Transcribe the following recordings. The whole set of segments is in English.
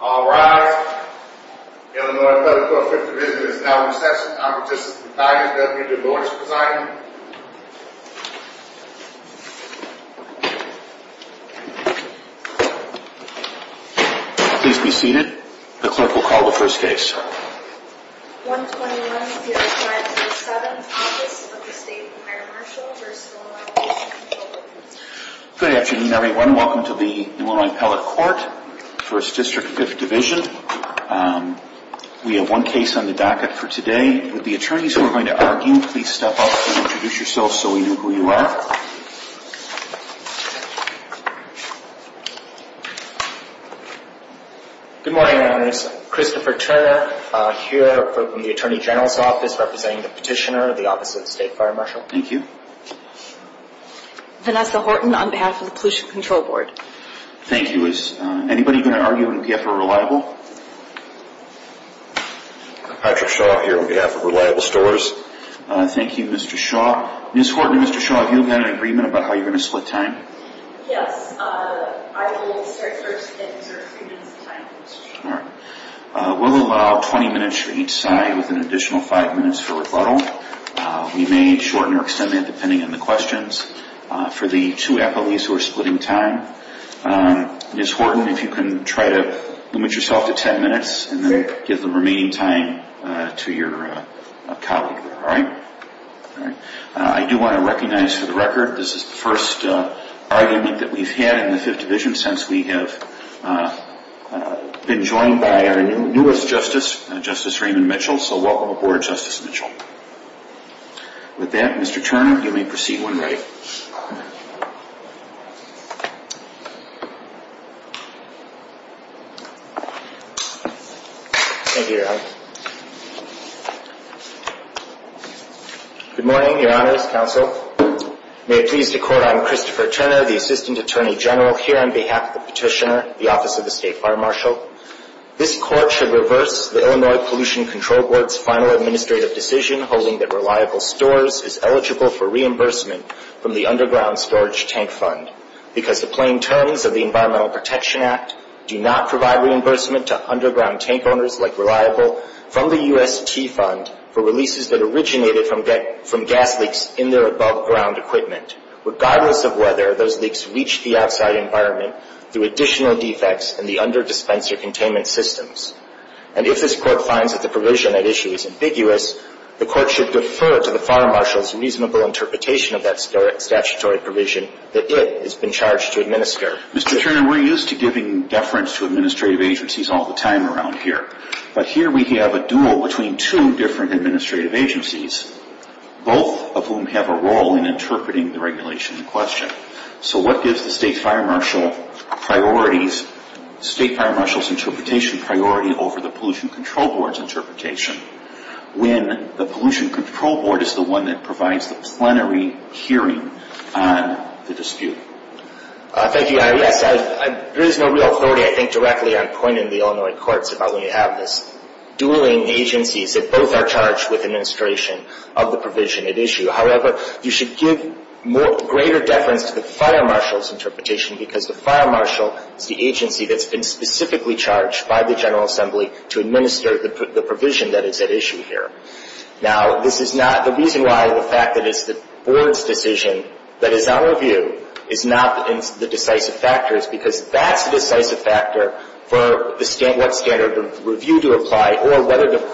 All rise. Illinois Federal Corp. 50th Division is now in session. Our participant today is Deputy Delores Poseidon. Please be seated. The clerk will call the first case. 121-05-07 Office of the State Fire Marshal v. Illinois Pollution Control Board Good afternoon, everyone. Welcome to the Illinois Appellate Court, 1st District, 5th Division. We have one case on the docket for today. With the attorneys who are going to argue, please step up and introduce yourselves so we know who you are. Good morning, Your Honors. Christopher Turner here from the Attorney General's Office representing the Petitioner of the Office of the State Fire Marshal. Thank you. Vanessa Horton on behalf of the Pollution Control Board. Thank you. Is anybody going to argue on behalf of Reliable? Patrick Shaw here on behalf of Reliable Stores. Thank you, Mr. Shaw. Ms. Horton and Mr. Shaw, have you got an agreement about how you're going to split time? Yes. I will start first and insert three minutes of time for Mr. Shaw. We'll allow 20 minutes for each side with an additional five minutes for rebuttal. We may shorten or extend that depending on the questions for the two appellees who are splitting time. Ms. Horton, if you can try to limit yourself to 10 minutes and then give the remaining time to your colleague. I do want to recognize for the record this is the first argument that we've had in the Fifth Division since we have been joined by our newest justice, Justice Raymond Mitchell. So welcome aboard, Justice Mitchell. With that, Mr. Turner, you may proceed when ready. Thank you, Your Honors. Good morning, Your Honors, Counsel. May it please the Court, I'm Christopher Turner, the Assistant Attorney General here on behalf of the Petitioner, the Office of the State Fire Marshal. This Court should reverse the Illinois Pollution Control Board's final administrative decision holding that Reliable Stores is eligible for reimbursement from the Underground Storage Tank Fund because the plain terms of the Environmental Protection Act do not provide reimbursement to underground tank owners like Reliable from the UST Fund for releases that originated from gas leaks in their above-ground equipment, regardless of whether those leaks reached the outside environment through additional defects in the under-dispenser containment systems. And if this Court finds that the provision at issue is ambiguous, the Court should defer to the Fire Marshal's reasonable interpretation of that statutory provision that it has been charged to administer. Mr. Turner, we're used to giving deference to administrative agencies all the time around here, but here we have a duel between two different administrative agencies, both of whom have a role in interpreting the regulation in question. So what gives the State Fire Marshal priorities, State Fire Marshal's interpretation priority over the Pollution Control Board's interpretation? When the Pollution Control Board is the one that provides the plenary hearing on the dispute. Thank you, Your Honor. Yes, there is no real authority, I think, directly on point in the Illinois courts about when you have this dueling agencies that both are charged with administration of the provision at issue. However, you should give greater deference to the Fire Marshal's interpretation because the Fire Marshal is the agency that's been specifically charged by the General Assembly to administer the provision that is at issue here. Now, the reason why the fact that it's the Board's decision that is on review is not the decisive factor is because that's the decisive factor for what standard of review to apply or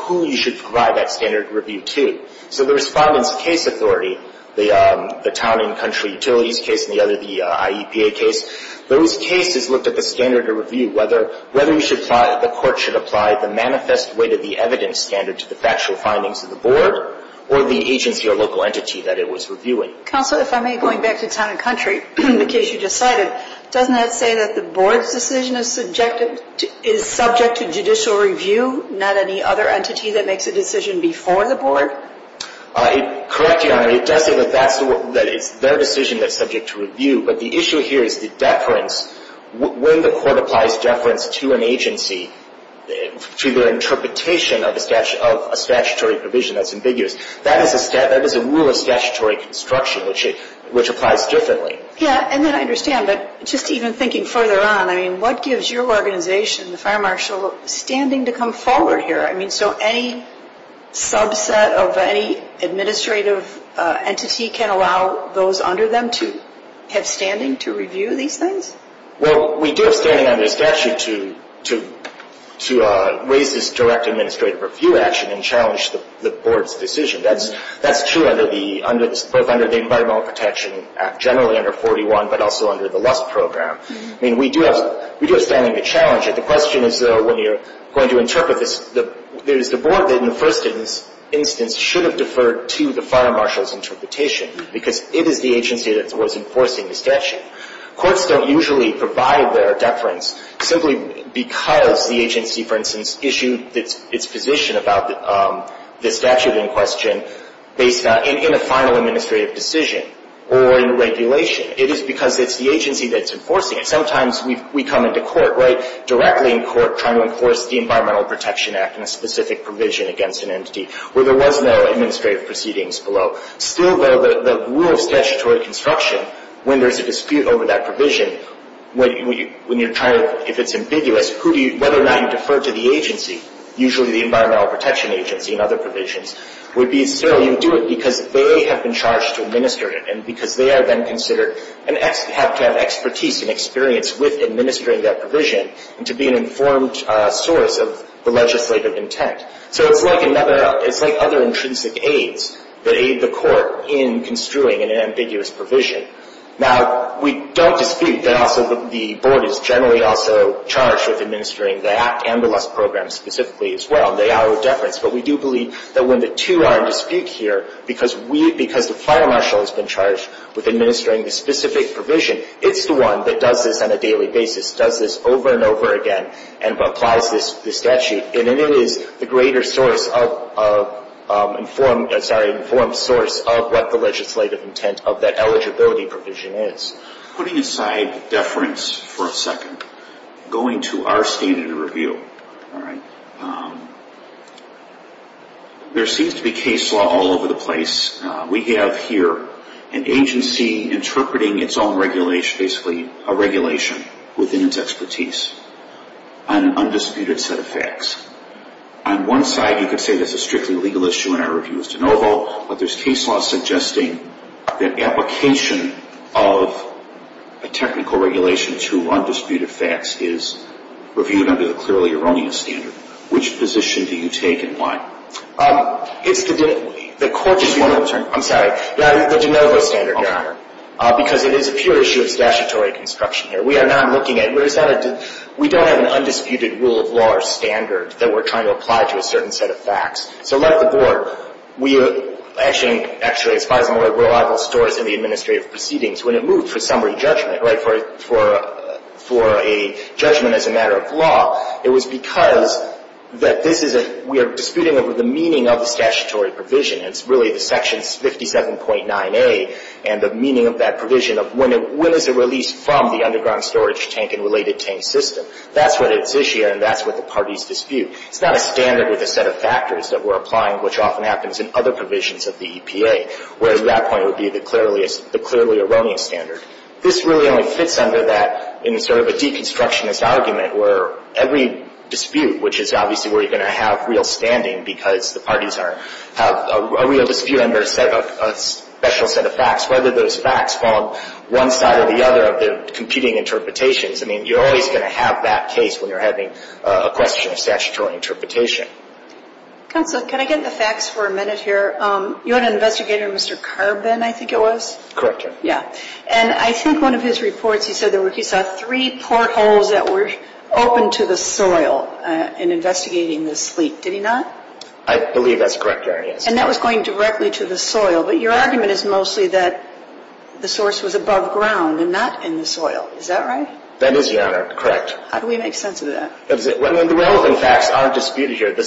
who you should provide that standard of review to. So the Respondent's case authority, the Town and Country Utilities case and the other, the IEPA case, those cases looked at the standard of review, whether you should apply, the court should apply the manifest way to the evidence standard to the factual findings of the Board or the agency or local entity that it was reviewing. Counsel, if I may, going back to Town and Country, the case you just cited, doesn't that say that the Board's decision is subjective, is subject to judicial review, not any other entity that makes a decision before the Board? Correct, Your Honor. It does say that it's their decision that's subject to review, but the issue here is the deference. When the court applies deference to an agency, to their interpretation of a statutory provision that's ambiguous, that is a rule of statutory construction, which applies differently. Yeah, and then I understand, but just even thinking further on, I mean, what gives your organization, the Fire Marshal, standing to come forward here? I mean, so any subset of any administrative entity can allow those under them to have standing to review these things? Well, we do have standing under statute to raise this direct administrative review action and challenge the Board's decision. That's true both under the Environmental Protection Act, generally under 41, but also under the LUST program. I mean, we do have standing to challenge it. The question is, though, when you're going to interpret this, there is the Board that in the first instance should have deferred to the Fire Marshal's interpretation, because it is the agency that was enforcing the statute. Courts don't usually provide their deference simply because the agency, for instance, issued its position about the statute in question in a final administrative decision or in regulation. It is because it's the agency that's enforcing it. Sometimes we come into court, right, directly in court trying to enforce the Environmental Protection Act in a specific provision against an entity where there was no administrative proceedings below. Still, though, the rule of statutory construction, when there's a dispute over that provision, when you're trying to, if it's ambiguous, whether or not you defer to the agency, usually the Environmental Protection Agency and other provisions, you do it because they have been charged to administer it, and because they are then considered to have expertise and experience with administering that provision and to be an informed source of the legislative intent. So it's like other intrinsic aids that aid the court in construing an ambiguous provision. Now, we don't dispute that also the Board is generally also charged with administering that and the LUST program specifically as well. They are a deference, but we do believe that when the two are in dispute here, because the final marshal has been charged with administering the specific provision, it's the one that does this on a daily basis, does this over and over again, and applies the statute, and it is the greater source of, sorry, informed source of what the legislative intent of that eligibility provision is. Putting aside deference for a second, going to our standard of review, there seems to be case law all over the place. We have here an agency interpreting its own regulation, basically a regulation within its expertise on an undisputed set of facts. On one side, you could say this is strictly a legal issue and our review is de novo, but there's case law suggesting that application of a technical regulation to undisputed facts is reviewed under the clearly erroneous standard. Which position do you take and why? It's the de novo standard, Your Honor, because it is a pure issue of statutory construction here. We are not looking at it. We don't have an undisputed rule of law or standard that we're trying to apply to a certain set of facts. So like the board, we actually, as far as I'm aware, rule of law stores in the administrative proceedings. When it moved for summary judgment, right, for a judgment as a matter of law, it was because that this is a we are disputing over the meaning of the statutory provision. It's really the section 57.9A and the meaning of that provision of when is it released from the underground storage tank and related tank system. That's what its issue and that's what the parties dispute. It's not a standard with a set of factors that we're applying, which often happens in other provisions of the EPA, where at that point it would be the clearly erroneous standard. This really only fits under that in sort of a deconstructionist argument where every dispute, which is obviously where you're going to have real standing because the parties have a real dispute under a special set of facts, whether those facts fall on one side or the other of the competing interpretations. I mean, you're always going to have that case when you're having a question of statutory interpretation. Counsel, can I get the facts for a minute here? You had an investigator, Mr. Carbin, I think it was. Correct, Your Honor. Yeah. And I think one of his reports, he said that he saw three portholes that were open to the soil in investigating this leak. Did he not? I believe that's correct, Your Honor, yes. And that was going directly to the soil. But your argument is mostly that the source was above ground and not in the soil. Is that right? That is, Your Honor. Correct. How do we make sense of that? The relevant facts aren't disputed here. The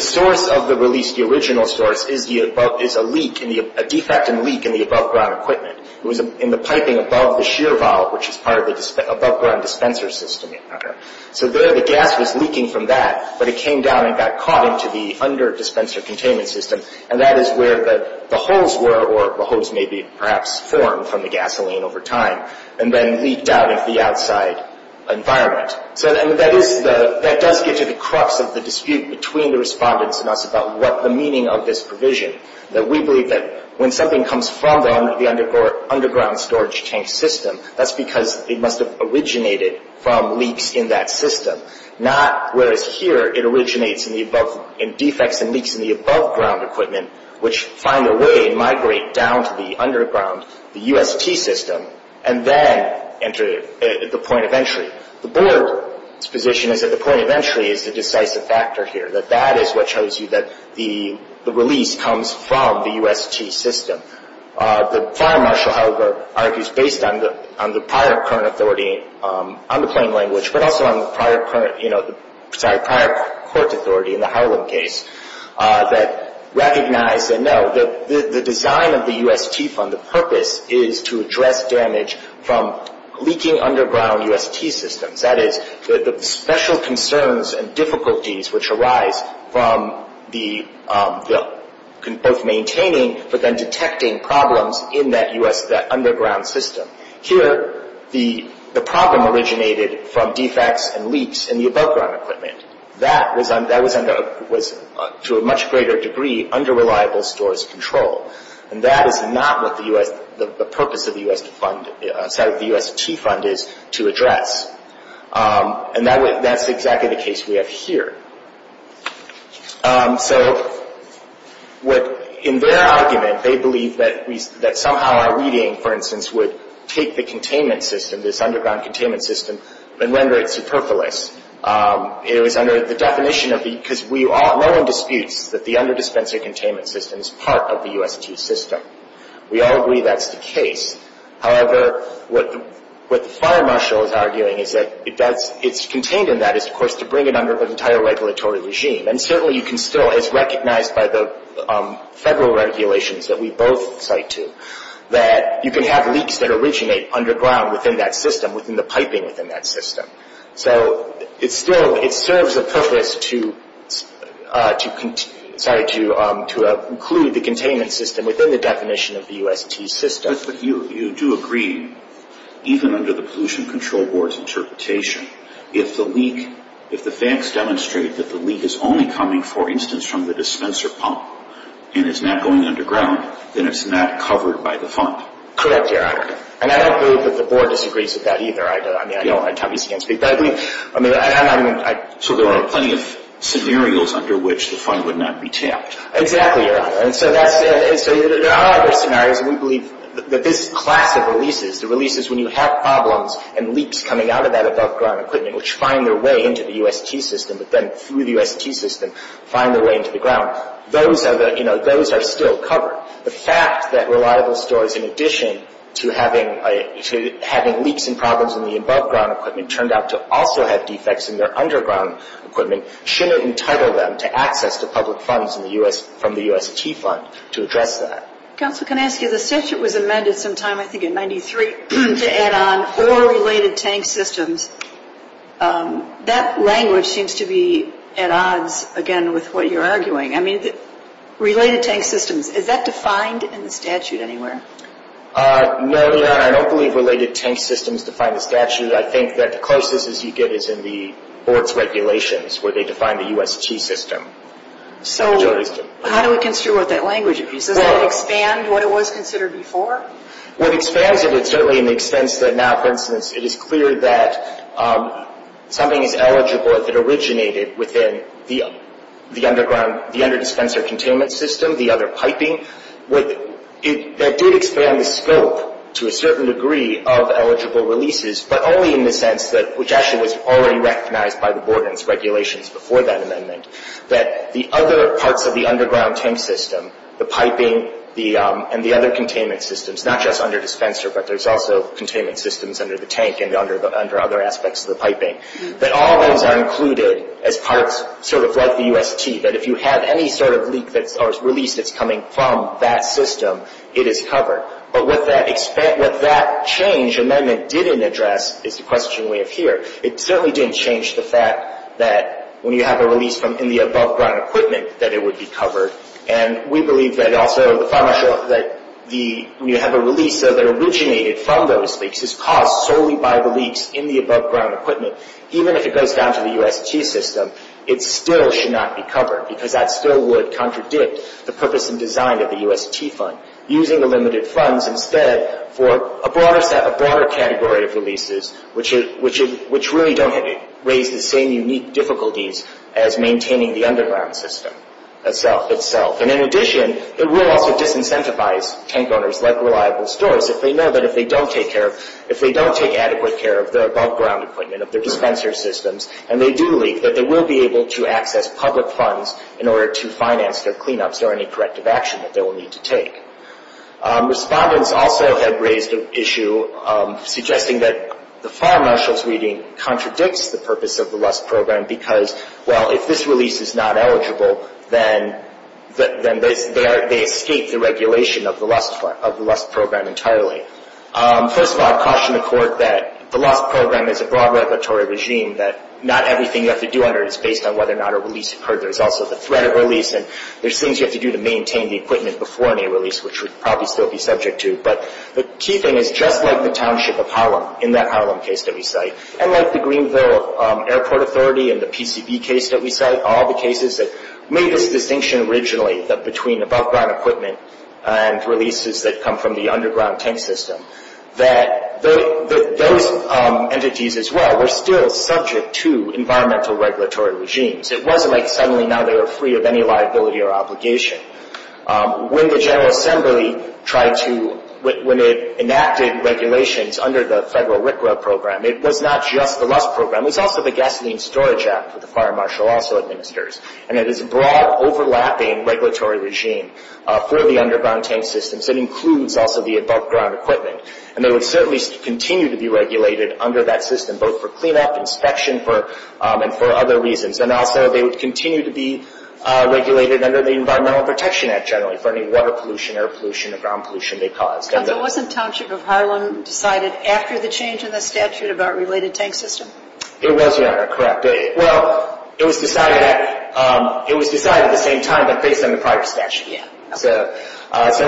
source of the release, the original source, is a leak, a defective leak in the above ground equipment. It was in the piping above the shear valve, which is part of the above ground dispenser system, Your Honor. So there the gas was leaking from that, but it came down and got caught into the under dispenser containment system. And that is where the holes were, or the holes may be perhaps formed from the gasoline over time, and then leaked out into the outside environment. So that does get to the crux of the dispute between the respondents and us about what the meaning of this provision, that we believe that when something comes from the underground storage tank system, that's because it must have originated from leaks in that system, not whereas here it originates in defects and leaks in the above ground equipment, which find their way and migrate down to the underground, the UST system, and then enter the point of entry. The board's position is that the point of entry is the decisive factor here, that that is what shows you that the release comes from the UST system. The prior marshal, however, argues based on the prior current authority on the plain language, but also on the prior court authority in the Harlan case, that recognize that no, the design of the UST fund, the purpose is to address damage from leaking underground UST systems. That is, the special concerns and difficulties which arise from both maintaining, but then detecting problems in that underground system. Here, the problem originated from defects and leaks in the above ground equipment. That was, to a much greater degree, under reliable storage control. That is not what the purpose of the UST fund is to address. That's exactly the case we have here. In their argument, they believe that somehow our reading, for instance, would take the containment system, this underground containment system, and render it superfluous. It was under the definition, because no one disputes that the under-dispenser containment system is part of the UST system. We all agree that's the case. However, what the prior marshal is arguing is that it's contained in that, of course, to bring it under an entire regulatory regime. Certainly, you can still, as recognized by the federal regulations that we both cite to, that you can have leaks that originate underground within that system, within the piping within that system. It serves a purpose to include the containment system within the definition of the UST system. You do agree, even under the Pollution Control Board's interpretation, if the facts demonstrate that the leak is only coming, for instance, from the dispenser pump, and it's not going underground, then it's not covered by the fund. Correct, Your Honor. I don't believe that the Board disagrees with that either. I mean, I obviously can't speak to that. So there are plenty of scenarios under which the fund would not be tapped. Exactly, Your Honor. So there are other scenarios, and we believe that this class of releases, the releases when you have problems and leaks coming out of that above-ground equipment, which find their way into the UST system, but then through the UST system, find their way into the ground, those are still covered. The fact that reliable stores, in addition to having leaks and problems in the above-ground equipment, turned out to also have defects in their underground equipment, shouldn't entitle them to access to public funds from the UST fund to address that. Counselor, can I ask you, the statute was amended sometime, I think, in 1993, to add on four related tank systems. That language seems to be at odds, again, with what you're arguing. I mean, related tank systems, is that defined in the statute anywhere? No, Your Honor, I don't believe related tank systems define the statute. I think that the closest you get is in the Board's regulations, where they define the UST system. So how do we consider what that language would be? Does that expand what it was considered before? What expands it is certainly in the sense that now, for instance, it is clear that something is eligible if it originated within the under-dispenser containment system, the other piping, that did expand the scope to a certain degree of eligible releases, but only in the sense that, which actually was already recognized by the Board in its regulations before that amendment, that the other parts of the underground tank system, the piping and the other containment systems, not just under-dispenser, but there's also containment systems under the tank and under other aspects of the piping, that all those are included as parts sort of like the UST, that if you have any sort of leak that's released that's coming from that system, it is covered. But what that change amendment didn't address is the question we have here. It certainly didn't change the fact that when you have a release in the above-ground equipment, that it would be covered. And we believe that also, that when you have a release that originated from those leaks, is caused solely by the leaks in the above-ground equipment, even if it goes down to the UST system, it still should not be covered, because that still would contradict the purpose and design of the UST fund. Using the limited funds instead for a broader category of releases, which really don't raise the same unique difficulties as maintaining the underground system itself. And in addition, it will also disincentivize tank owners, like reliable stores, if they know that if they don't take adequate care of the above-ground equipment, of their dispenser systems, and they do leak, that they will be able to access public funds in order to finance their cleanups or any corrective action that they will need to take. Respondents also have raised the issue, suggesting that the Farr-Marshall's reading contradicts the purpose of the LUST program, because, well, if this release is not eligible, then they escape the regulation of the LUST program entirely. First of all, I caution the Court that the LUST program is a broad regulatory regime, that not everything you have to do under it is based on whether or not a release occurred. There's also the threat of release, and there's things you have to do to maintain the equipment before any release, which we'd probably still be subject to. But the key thing is, just like the Township of Harlem, in that Harlem case that we cite, and like the Greenville Airport Authority and the PCB case that we cite, all the cases that made this distinction originally between above-ground equipment and releases that come from the underground tank system, that those entities as well were still subject to environmental regulatory regimes. It wasn't like suddenly now they were free of any liability or obligation. When the General Assembly tried to, when it enacted regulations under the federal RCRA program, it was not just the LUST program. It was also the Gasoline Storage Act that the Farr-Marshall also administers. And it is a broad, overlapping regulatory regime for the underground tank systems. It includes also the above-ground equipment. And they would certainly continue to be regulated under that system, both for cleanup, inspection, and for other reasons. And also they would continue to be regulated under the Environmental Protection Act, generally, for any water pollution, air pollution, or ground pollution they caused. But wasn't Township of Harlem decided after the change in the statute about related tank systems? It was, Your Honor. Correct. Well, it was decided at the same time that based on the prior statute. So it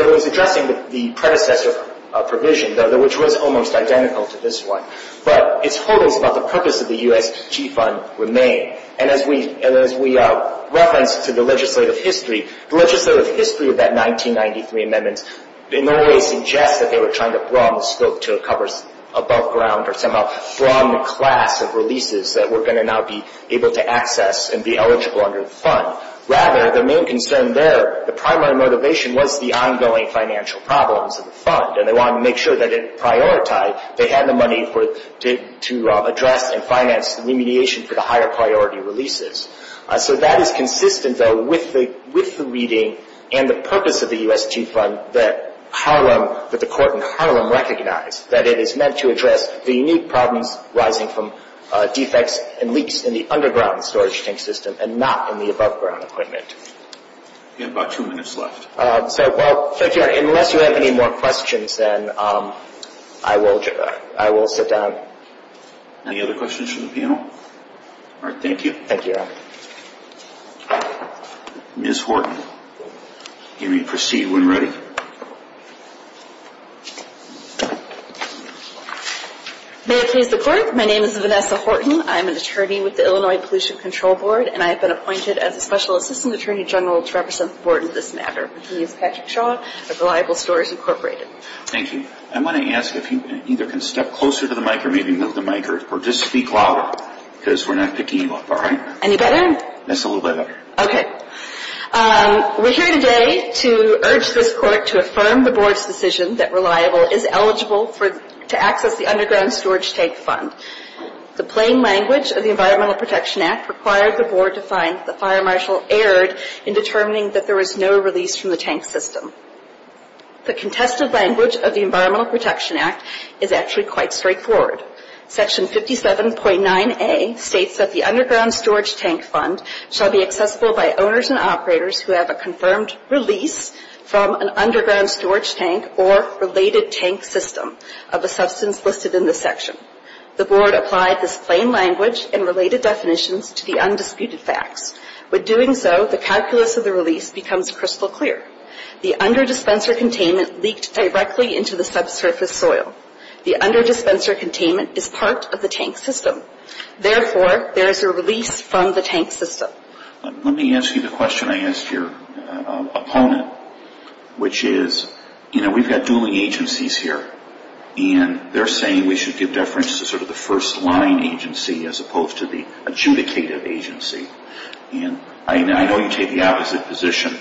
was addressing the predecessor provision, which was almost identical to this one. But its holdings about the purpose of the USG fund remain. And as we reference to the legislative history, the legislative history of that 1993 amendment in no way suggests that they were trying to broaden the scope to cover above-ground or somehow broaden the class of releases that we're going to now be able to access and be eligible under the fund. Rather, the main concern there, the primary motivation, was the ongoing financial problems of the fund. And they wanted to make sure that it prioritized. They had the money to address and finance remediation for the higher-priority releases. So that is consistent, though, with the reading and the purpose of the USG fund that the court in Harlem recognized, that it is meant to address the unique problems rising from defects and leaks in the underground storage tank system and not in the above-ground equipment. We have about two minutes left. So unless you have any more questions, then I will sit down. Any other questions from the panel? All right, thank you. Thank you, Your Honor. Ms. Horton, you may proceed when ready. May I please report? My name is Vanessa Horton. I'm an attorney with the Illinois Pollution Control Board, and I have been appointed as a special assistant attorney general to represent the board in this matter. My name is Patrick Shaw of Reliable Stores, Incorporated. Thank you. I want to ask if you either can step closer to the mic or maybe move the mic or just speak louder, because we're not picking you up, all right? Any better? That's a little bit better. Okay. We're here today to urge this court to affirm the board's decision that Reliable is eligible to access the underground storage tank fund. The plain language of the Environmental Protection Act required the board to find the fire marshal erred in determining that there was no release from the tank system. The contested language of the Environmental Protection Act is actually quite straightforward. Section 57.9A states that the underground storage tank fund shall be accessible by owners and operators who have a confirmed release from an underground storage tank or related tank system of a substance listed in this section. The board applied this plain language and related definitions to the undisputed facts. With doing so, the calculus of the release becomes crystal clear. The under-dispenser containment leaked directly into the subsurface soil. The under-dispenser containment is part of the tank system. Therefore, there is a release from the tank system. Let me ask you the question I asked your opponent, which is, you know, we've got dueling agencies here. And they're saying we should give deference to sort of the first-line agency as opposed to the adjudicated agency. And I know you take the opposite position.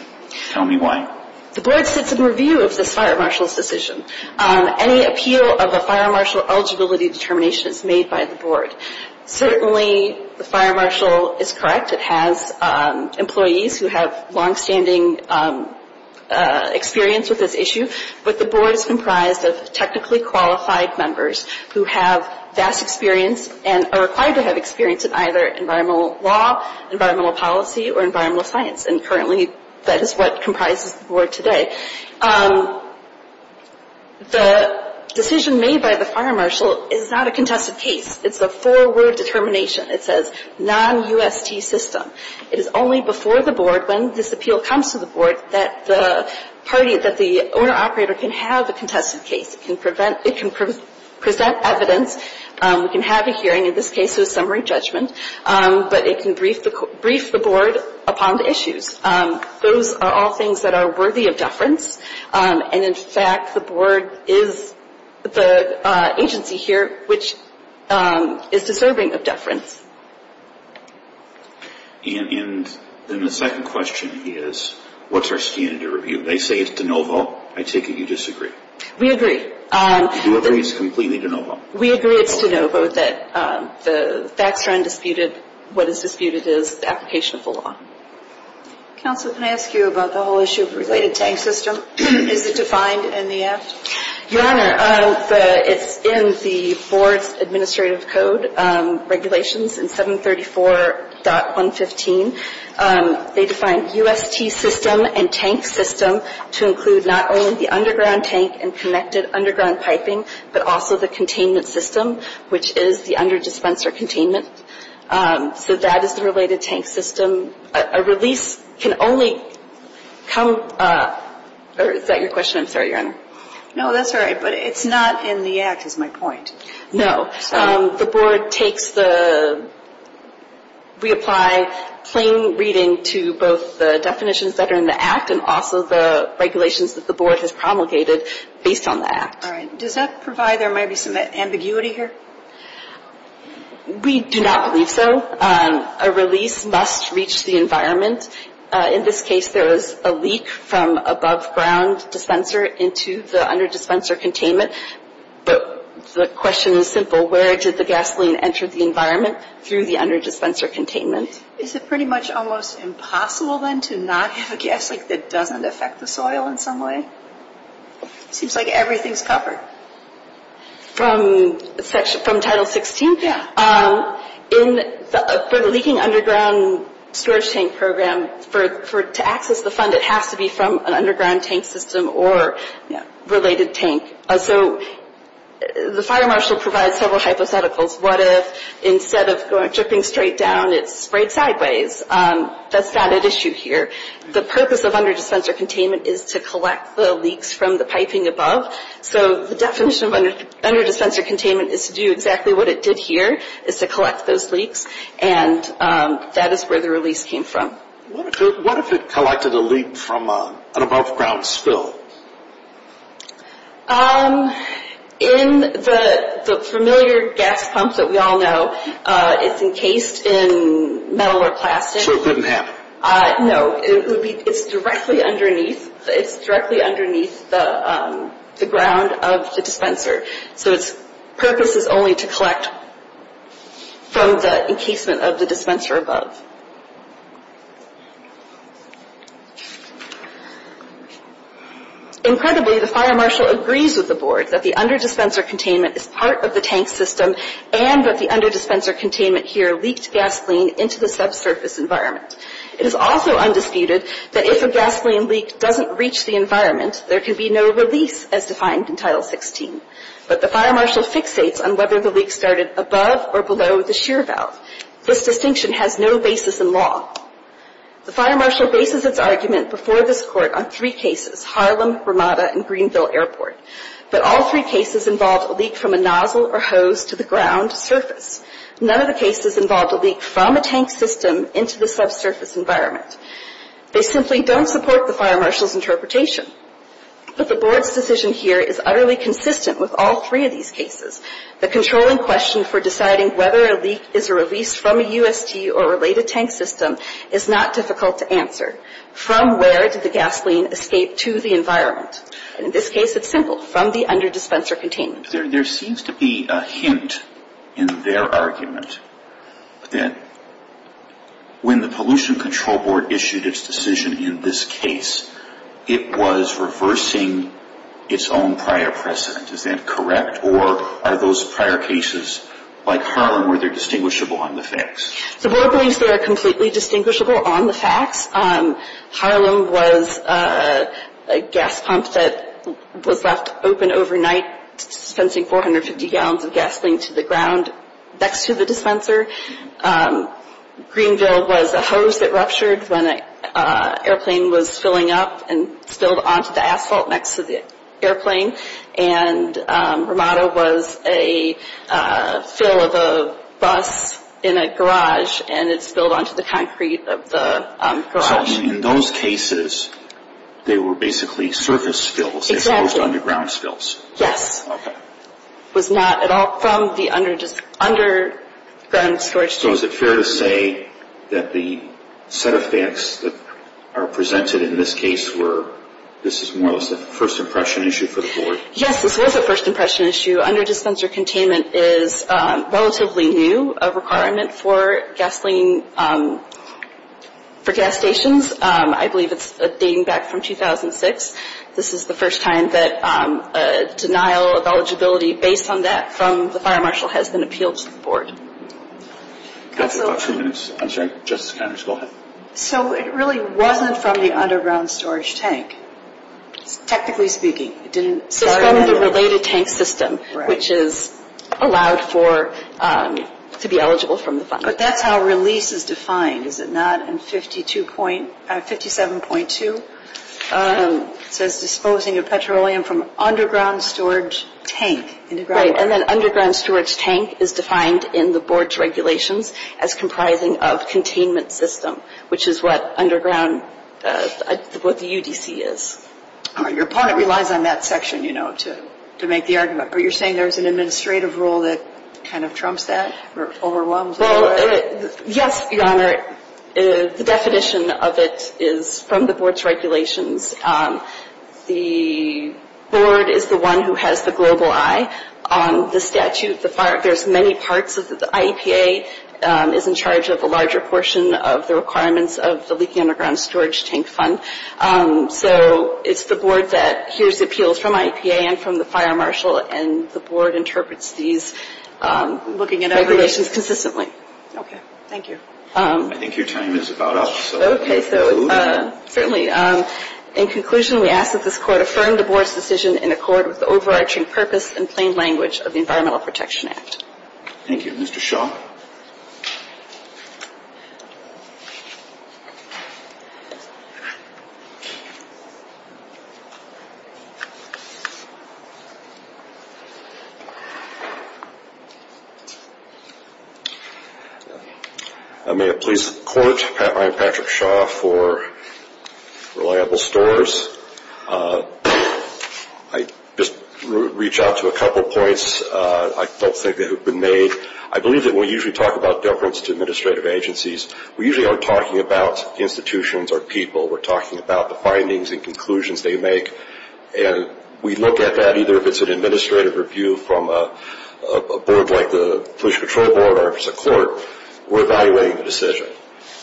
Tell me why. The board sits in review of this fire marshal's decision. Any appeal of a fire marshal eligibility determination is made by the board. Certainly, the fire marshal is correct. It has employees who have longstanding experience with this issue. But the board is comprised of technically qualified members who have vast experience and are required to have experience in either environmental law, environmental policy, or environmental science. And currently, that is what comprises the board today. The decision made by the fire marshal is not a contested case. It's a four-word determination. It says non-UST system. It is only before the board, when this appeal comes to the board, that the party, that the owner-operator can have a contested case. It can present evidence. It can have a hearing. In this case, it was summary judgment. But it can brief the board upon the issues. Those are all things that are worthy of deference. And, in fact, the board is the agency here which is deserving of deference. And then the second question is, what's our standard of review? They say it's de novo. I take it you disagree. We agree. You agree it's completely de novo. We agree it's de novo, that the facts are undisputed. What is disputed is the application of the law. Counsel, can I ask you about the whole issue of related tank system? Is it defined in the act? Your Honor, it's in the board's administrative code regulations in 734.115. They define UST system and tank system to include not only the underground tank and connected underground piping, but also the containment system, which is the under-dispenser containment. So that is the related tank system. A release can only come or is that your question? I'm sorry, Your Honor. No, that's all right. But it's not in the act is my point. No. The board takes the reapply plain reading to both the definitions that are in the act and also the regulations that the board has promulgated based on the act. All right. Does that provide there might be some ambiguity here? We do not believe so. A release must reach the environment. In this case, there was a leak from above-ground dispenser into the under-dispenser containment. But the question is simple. Where did the gasoline enter the environment? Through the under-dispenser containment. Is it pretty much almost impossible then to not have a gas leak that doesn't affect the soil in some way? It seems like everything is covered. From Title 16? Yeah. For the leaking underground storage tank program, to access the fund, it has to be from an underground tank system or related tank. So the fire marshal provides several hypotheticals. What if instead of dripping straight down, it's sprayed sideways? That's not an issue here. The purpose of under-dispenser containment is to collect the leaks from the piping above. So the definition of under-dispenser containment is to do exactly what it did here, is to collect those leaks, and that is where the release came from. What if it collected a leak from an above-ground spill? In the familiar gas pumps that we all know, it's encased in metal or plastic. So it couldn't happen? No. It's directly underneath the ground of the dispenser. So its purpose is only to collect from the encasement of the dispenser above. Incredibly, the fire marshal agrees with the board that the under-dispenser containment is part of the tank system and that the under-dispenser containment here leaked gasoline into the subsurface environment. It is also undisputed that if a gasoline leak doesn't reach the environment, there can be no release as defined in Title 16. But the fire marshal fixates on whether the leak started above or below the shear valve. This distinction has no basis in law. The fire marshal bases its argument before this Court on three cases, Harlem, Ramada, and Greenville Airport. But all three cases involved a leak from a nozzle or hose to the ground surface. None of the cases involved a leak from a tank system into the subsurface environment. They simply don't support the fire marshal's interpretation. But the board's decision here is utterly consistent with all three of these cases. The controlling question for deciding whether a leak is a release from a UST or related tank system is not difficult to answer. From where did the gasoline escape to the environment? In this case, it's simple. From the under-dispenser containment. There seems to be a hint in their argument that when the Pollution Control Board issued its decision in this case, it was reversing its own prior precedent. Is that correct? Or are those prior cases like Harlem, were they distinguishable on the facts? The board believes they are completely distinguishable on the facts. Harlem was a gas pump that was left open overnight, dispensing 450 gallons of gasoline to the ground next to the dispenser. Greenville was a hose that ruptured when an airplane was filling up and spilled onto the asphalt next to the airplane. And Ramada was a fill of a bus in a garage and it spilled onto the concrete of the garage. So in those cases, they were basically surface spills. Exactly. They weren't underground spills. Yes. Okay. It was not at all from the underground storage. So is it fair to say that the set of facts that are presented in this case were, this is more or less a first impression issue for the board? Yes, this was a first impression issue. Under-dispenser containment is relatively new, a requirement for gasoline, for gas stations. I believe it's dating back from 2006. This is the first time that a denial of eligibility based on that from the fire marshal has been appealed to the board. Counsel. We have about two minutes. I'm sorry. Justice Connors, go ahead. So it really wasn't from the underground storage tank, technically speaking. It didn't. It's from the related tank system, which is allowed to be eligible from the fund. But that's how release is defined, is it not, in 57.2? It says disposing of petroleum from underground storage tank. Right. And then underground storage tank is defined in the board's regulations as comprising of containment system, which is what the UDC is. Your opponent relies on that section, you know, to make the argument. But you're saying there's an administrative rule that kind of trumps that or overwhelms it? Well, yes, Your Honor. The definition of it is from the board's regulations. The board is the one who has the global eye on the statute. There's many parts of it. The IEPA is in charge of a larger portion of the requirements of the leaking underground storage tank fund. So it's the board that hears appeals from IEPA and from the fire marshal, and the board interprets these, looking at our relations consistently. Okay. Thank you. I think your time is about up. Okay, so certainly. In conclusion, we ask that this Court affirm the board's decision in accord with the overarching purpose and plain language of the Environmental Protection Act. Thank you. Mr. Shaw? I may have pleased the Court. I am Patrick Shaw for Reliable Stores. I'd just reach out to a couple points. I don't think that have been made. I believe that we usually talk about deference to administrative agencies. We usually aren't talking about institutions or people. We're talking about the findings and conclusions they make. And we look at that, either if it's an administrative review from a board like the Pollution Control Board or if it's a court, we're evaluating the decision.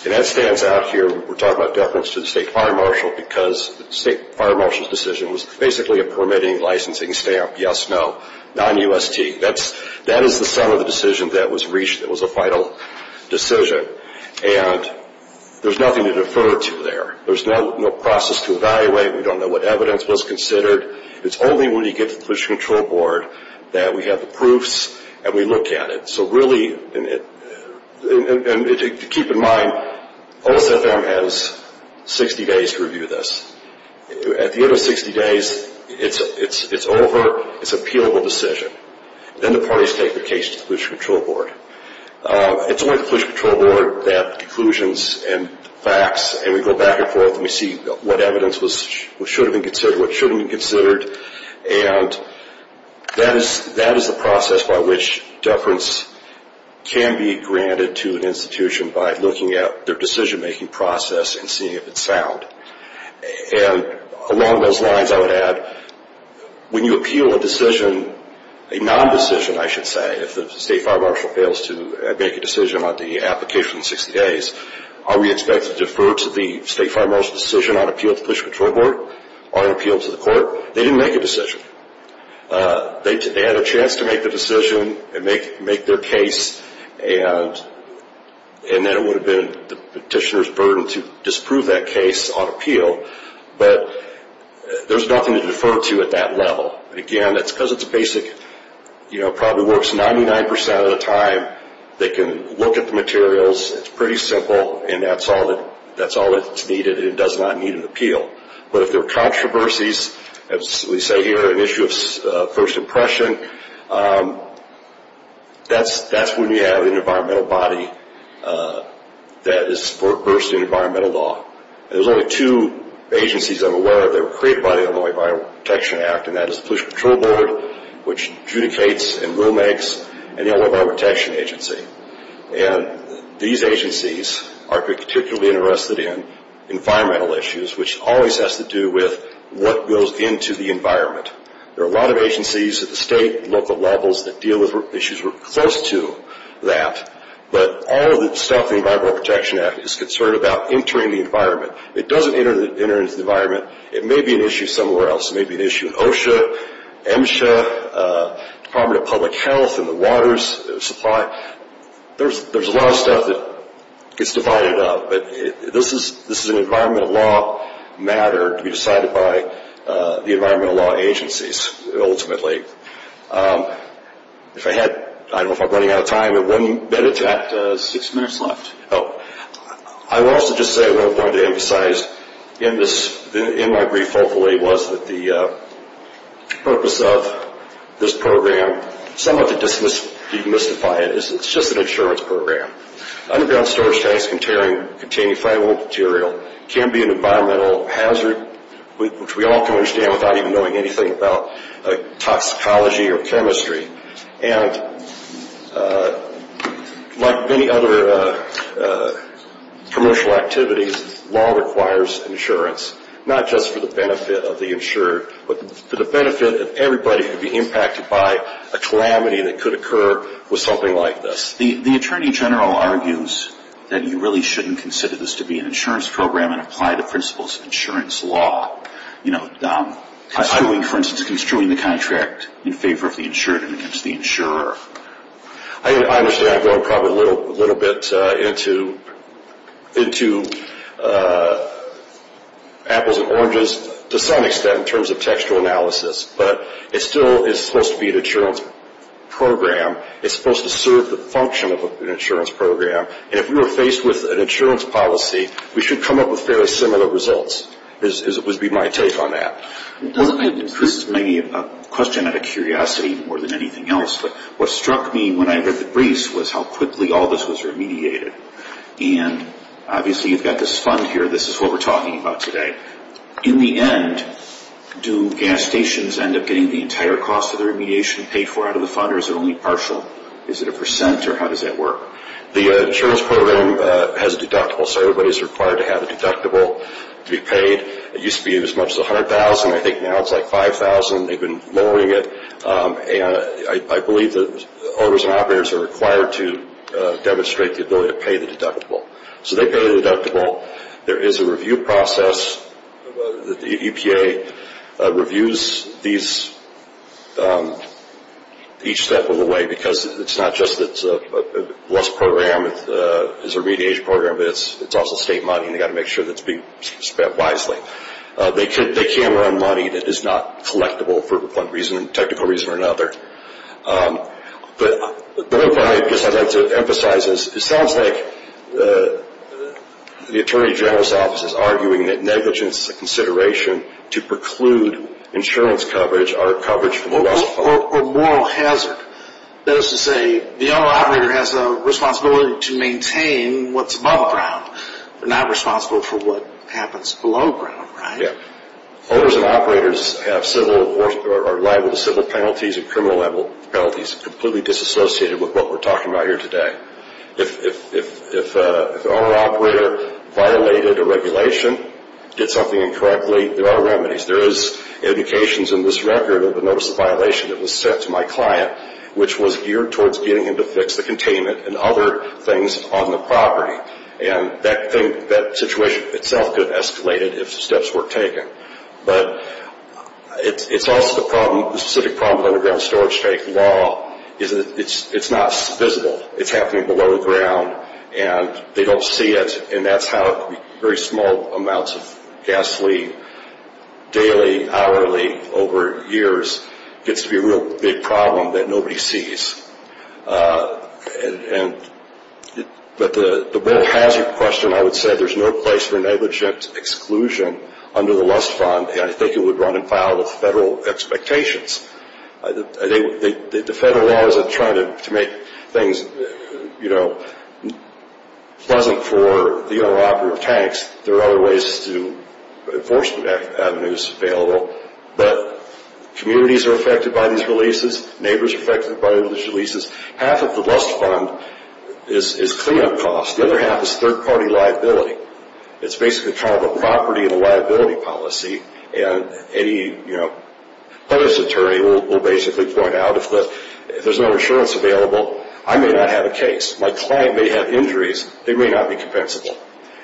And that stands out here. We're talking about deference to the state fire marshal because the state fire marshal's decision was basically a permitting licensing stamp. Yes, no. Non-UST. That is the sum of the decision that was reached that was a vital decision. And there's nothing to defer to there. There's no process to evaluate. We don't know what evidence was considered. It's only when you get to the Pollution Control Board that we have the proofs and we look at it. So really, keep in mind, OSFM has 60 days to review this. At the end of 60 days, it's over. It's an appealable decision. Then the parties take the case to the Pollution Control Board. It's only the Pollution Control Board that conclusions and facts, and we go back and forth, and we see what evidence should have been considered, what shouldn't have been considered. And that is the process by which deference can be granted to an institution by looking at their decision-making process and seeing if it's sound. And along those lines, I would add, when you appeal a decision, a non-decision, I should say, if the state fire marshal fails to make a decision on the application in 60 days, are we expected to defer to the state fire marshal's decision on appeal to the Pollution Control Board or an appeal to the court? They didn't make a decision. They had a chance to make the decision and make their case, and then it would have been the petitioner's burden to disprove that case on appeal. But there's nothing to defer to at that level. Again, that's because it's basic. It probably works 99% of the time. They can look at the materials. It's pretty simple, and that's all that's needed, and it does not need an appeal. But if there are controversies, as we say here, an issue of first impression, that's when you have an environmental body that is versed in environmental law. There's only two agencies I'm aware of that were created by the Illinois Environmental Protection Act, and that is the Pollution Control Board, which adjudicates and rule-makes an Illinois Environmental Protection Agency. These agencies are particularly interested in environmental issues, which always has to do with what goes into the environment. There are a lot of agencies at the state and local levels that deal with issues close to that, but all of the stuff the Environmental Protection Act is concerned about entering the environment. It doesn't enter the environment. It may be an issue somewhere else. It may be an issue in OSHA, MSHA, Department of Public Health, and the water supply. There's a lot of stuff that gets divided up, but this is an environmental law matter to be decided by the environmental law agencies, ultimately. If I had, I don't know if I'm running out of time, but one minute to act. Six minutes left. I will also just say what I wanted to emphasize in my brief, hopefully, was that the purpose of this program, somewhat to demystify it, is it's just an insurance program. Underground storage tanks containing friable material can be an environmental hazard, which we all can understand without even knowing anything about toxicology or chemistry. And like many other commercial activities, law requires insurance, not just for the benefit of the insured, but for the benefit of everybody who could be impacted by a calamity that could occur with something like this. The Attorney General argues that you really shouldn't consider this to be an insurance program and apply the principles of insurance law. For instance, construing the contract in favor of the insured and against the insurer. I understand. I'm going probably a little bit into apples and oranges to some extent in terms of textual analysis. But it still is supposed to be an insurance program. It's supposed to serve the function of an insurance program. And if we were faced with an insurance policy, we should come up with fairly similar results. That would be my take on that. This is maybe a question out of curiosity more than anything else, but what struck me when I read the briefs was how quickly all this was remediated. And obviously you've got this fund here. This is what we're talking about today. In the end, do gas stations end up getting the entire cost of their remediation paid for out of the fund, or is it only partial? Is it a percent, or how does that work? The insurance program has a deductible, so everybody's required to have a deductible to be paid. It used to be as much as $100,000. I think now it's like $5,000. They've been lowering it. And I believe that owners and operators are required to demonstrate the ability to pay the deductible. So they pay the deductible. There is a review process. The EPA reviews each step of the way because it's not just that it's a blessed program. It's a remediation program, but it's also state money, and they've got to make sure it's being spent wisely. They can run money that is not collectible for one reason or another. The other point I guess I'd like to emphasize is it sounds like the Attorney General's office is arguing that negligence is a consideration to preclude insurance coverage or coverage from the West Pole. Or moral hazard. That is to say, the owner-operator has a responsibility to maintain what's above ground. They're not responsible for what happens below ground, right? Owners and operators are liable to civil penalties and criminal penalties completely disassociated with what we're talking about here today. If the owner-operator violated a regulation, did something incorrectly, there are remedies. There is indications in this record of a notice of violation that was sent to my client, which was geared towards getting him to fix the containment and other things on the property. That situation itself could have escalated if steps were taken. It's also the specific problem with underground storage tank law. It's not visible. It's happening below ground, and they don't see it. That's how very small amounts of gasoline, daily, hourly, over years, gets to be a real big problem that nobody sees. But the moral hazard question, I would say there's no place for negligent exclusion under the Lust Fund. I think it would run in file with federal expectations. The federal law isn't trying to make things pleasant for the owner-operator of tanks. There are other ways to enforce the avenues available. But communities are affected by these releases. Neighbors are affected by these releases. Half of the Lust Fund is cleanup costs. The other half is third-party liability. It's basically kind of a property and a liability policy. Any police attorney will basically point out, if there's no insurance available, I may not have a case. My client may have injuries. They may not be compensable.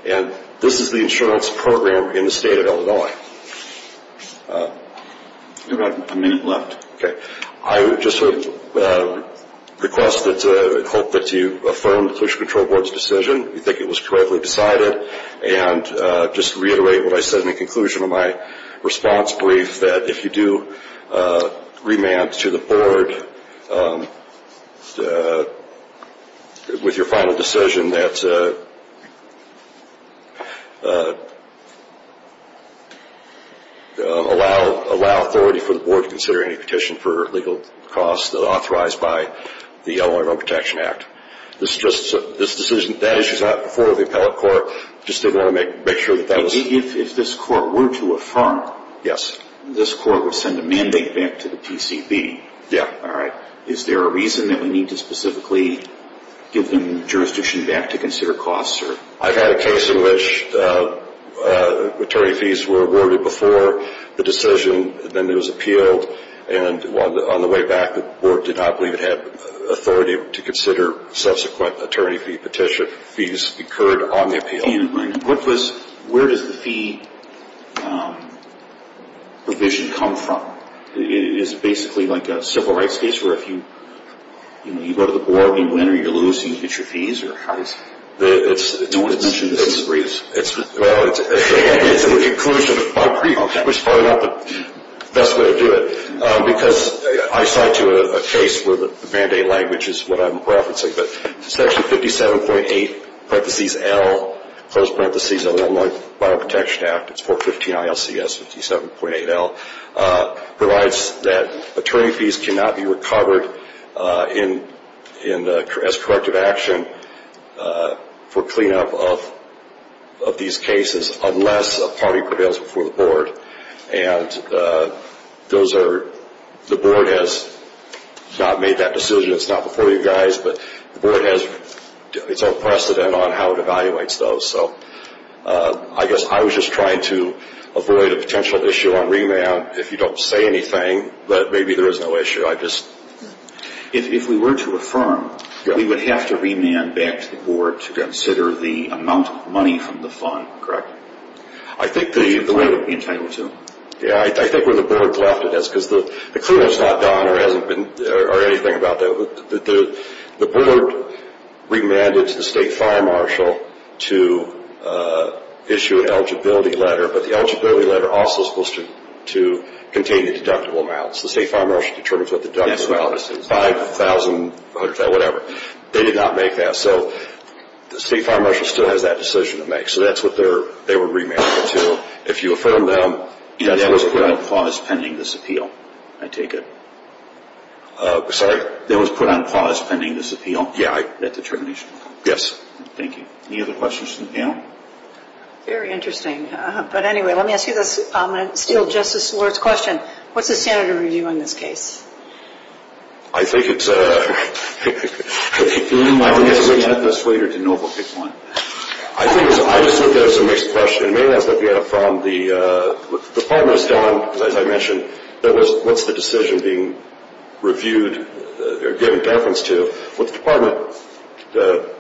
And this is the insurance program in the state of Illinois. We have about a minute left. Okay. I would just request that you affirm the Pollution Control Board's decision. We think it was correctly decided. And just reiterate what I said in the conclusion of my response brief, that if you do remand to the board with your final decision, that allow authority for the board to consider any petition for legal costs authorized by the Illinois Road Protection Act. This decision, that issue is not before the appellate court. I just didn't want to make sure that that was. If this court were to affirm. Yes. This court would send a mandate back to the PCB. Yeah. All right. Is there a reason that we need to specifically give them jurisdiction back to consider costs? I've had a case in which attorney fees were awarded before the decision. Then it was appealed. And on the way back, the board did not believe it had authority to consider subsequent attorney fee petition. Fees occurred on the appeal. Where does the fee provision come from? Is it basically like a civil rights case where if you go to the board and you win or you lose and you get your fees? No one has mentioned this in the brief. It's the conclusion of my brief, which is probably not the best way to do it. Because I cite to a case where the mandate language is what I'm referencing. But section 57.8, parenthesis L, close parenthesis of the Illinois Bioprotection Act. It's 415 ILCS 57.8 L. Provides that attorney fees cannot be recovered as corrective action for cleanup of these cases unless a party prevails before the board. And the board has not made that decision. It's not before you guys. But the board has its own precedent on how it evaluates those. So I guess I was just trying to avoid a potential issue on remand if you don't say anything. But maybe there is no issue. If we were to affirm, we would have to remand back to the board to consider the amount of money from the fund, correct? Which the client would be entitled to. Yeah, I think where the board's left it is. Because the crewman's not gone or anything about that. The board remanded to the state fire marshal to issue an eligibility letter. But the eligibility letter also is supposed to contain the deductible amounts. The state fire marshal determines what the deductible amount is. 5,000, whatever. They did not make that. So the state fire marshal still has that decision to make. So that's what they were remanded to. So if you affirm that. Yeah, that was put on pause pending this appeal. I take it. Sorry? That was put on pause pending this appeal. Yeah, I. That determination. Yes. Thank you. Any other questions from the panel? Very interesting. But anyway, let me ask you this. I'm going to steal Justice Lord's question. What's the standard of review on this case? Do you mind if we get this later to know what people want? I think it's... It's a very serious question. It may ask that we get it from the... What the department has done, as I mentioned, that was what's the decision being reviewed or given deference to. What the department... What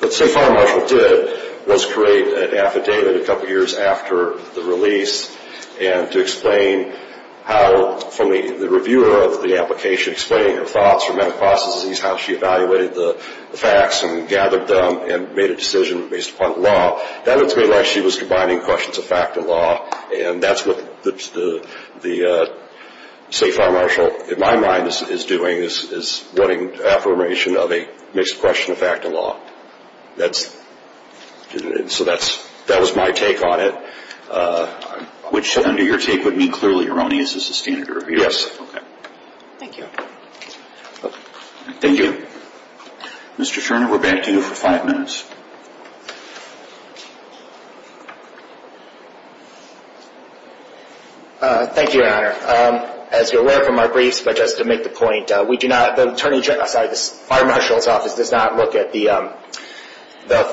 the state fire marshal did was create an affidavit a couple years after the release and to explain how from the reviewer of the application, explaining her thoughts or medical processes, how she evaluated the facts and gathered them and made a decision based upon the law. That looks like she was combining questions of fact and law, and that's what the state fire marshal, in my mind, is doing is wanting affirmation of a mixed question of fact and law. That's... So that's... That was my take on it. Which, under your take, would mean clearly erroneous as the standard of review. Yes. Okay. Thank you. Thank you. Mr. Scherner, we're back to you for five minutes. Thank you, Your Honor. As you're aware from our briefs, but just to make the point, the fire marshal's office does not look at the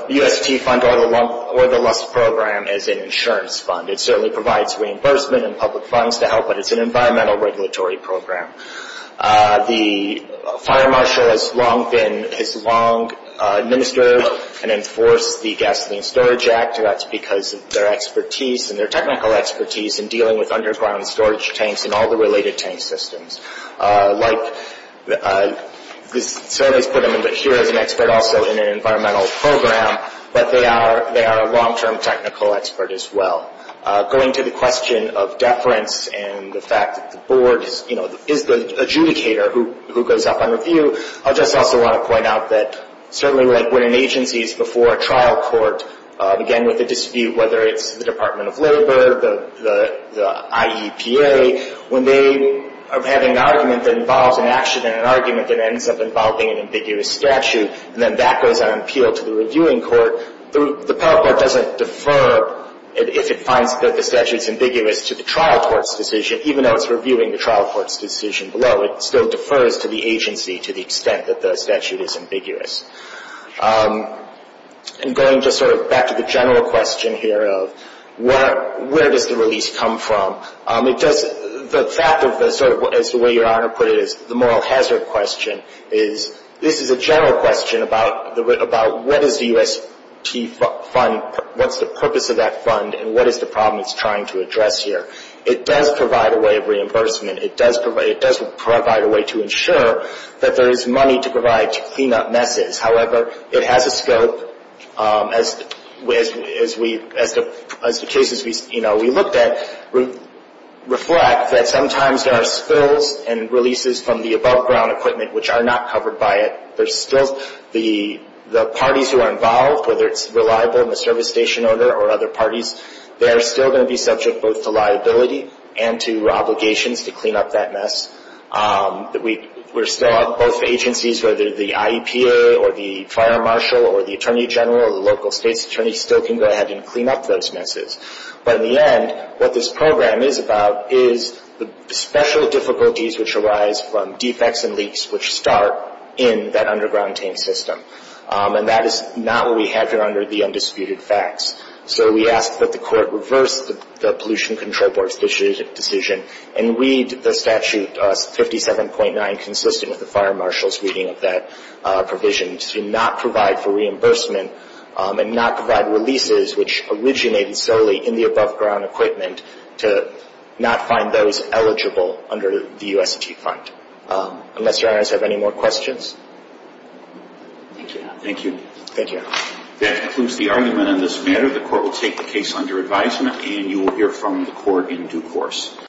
UST fund or the LUST program as an insurance fund. It certainly provides reimbursement and public funds to help, but it's an environmental regulatory program. The fire marshal has long administered and enforced the Gasoline Storage Act, and that's because of their expertise and their technical expertise in dealing with underground storage tanks and all the related tank systems. Like the surveys put them in, but here is an expert also in an environmental program, but they are a long-term technical expert as well. Going to the question of deference and the fact that the board is the adjudicator who goes up on review, I just also want to point out that certainly like when an agency is before a trial court, again, with a dispute, whether it's the Department of Labor, the IEPA, when they are having an argument that involves an action and an argument that ends up involving an ambiguous statute, and then that goes on appeal to the reviewing court, the appellate court doesn't defer if it finds that the statute is ambiguous to the trial court's decision. Even though it's reviewing the trial court's decision below, it still defers to the agency to the extent that the statute is ambiguous. And going just sort of back to the general question here of where does the release come from, the fact of the sort of, as the way your Honor put it, the moral hazard question, is this is a general question about what is the UST fund, what's the purpose of that fund, and what is the problem it's trying to address here. It does provide a way of reimbursement. It does provide a way to ensure that there is money to provide to clean up messes. However, it has a scope, as the cases we looked at reflect, that sometimes there are spills and releases from the above ground equipment which are not covered by it. There's still the parties who are involved, whether it's reliable in the service station order or other parties, they are still going to be subject both to liability and to obligations to clean up that mess. We're still at both agencies, whether the IEPA or the fire marshal or the attorney general or the local state's attorney still can go ahead and clean up those messes. But in the end, what this program is about is the special difficulties which arise from defects and leaks which start in that underground tank system. And that is not what we have here under the undisputed facts. So we ask that the court reverse the pollution control board's decision and read the statute 57.9 consistent with the fire marshal's reading of that provision to not provide for reimbursement and not provide releases which originated solely in the above ground equipment to not find those eligible under the USET fund. Unless your honors have any more questions. Thank you. Thank you. That concludes the argument on this matter. The court will take the case under advisement and you will hear from the court in due course.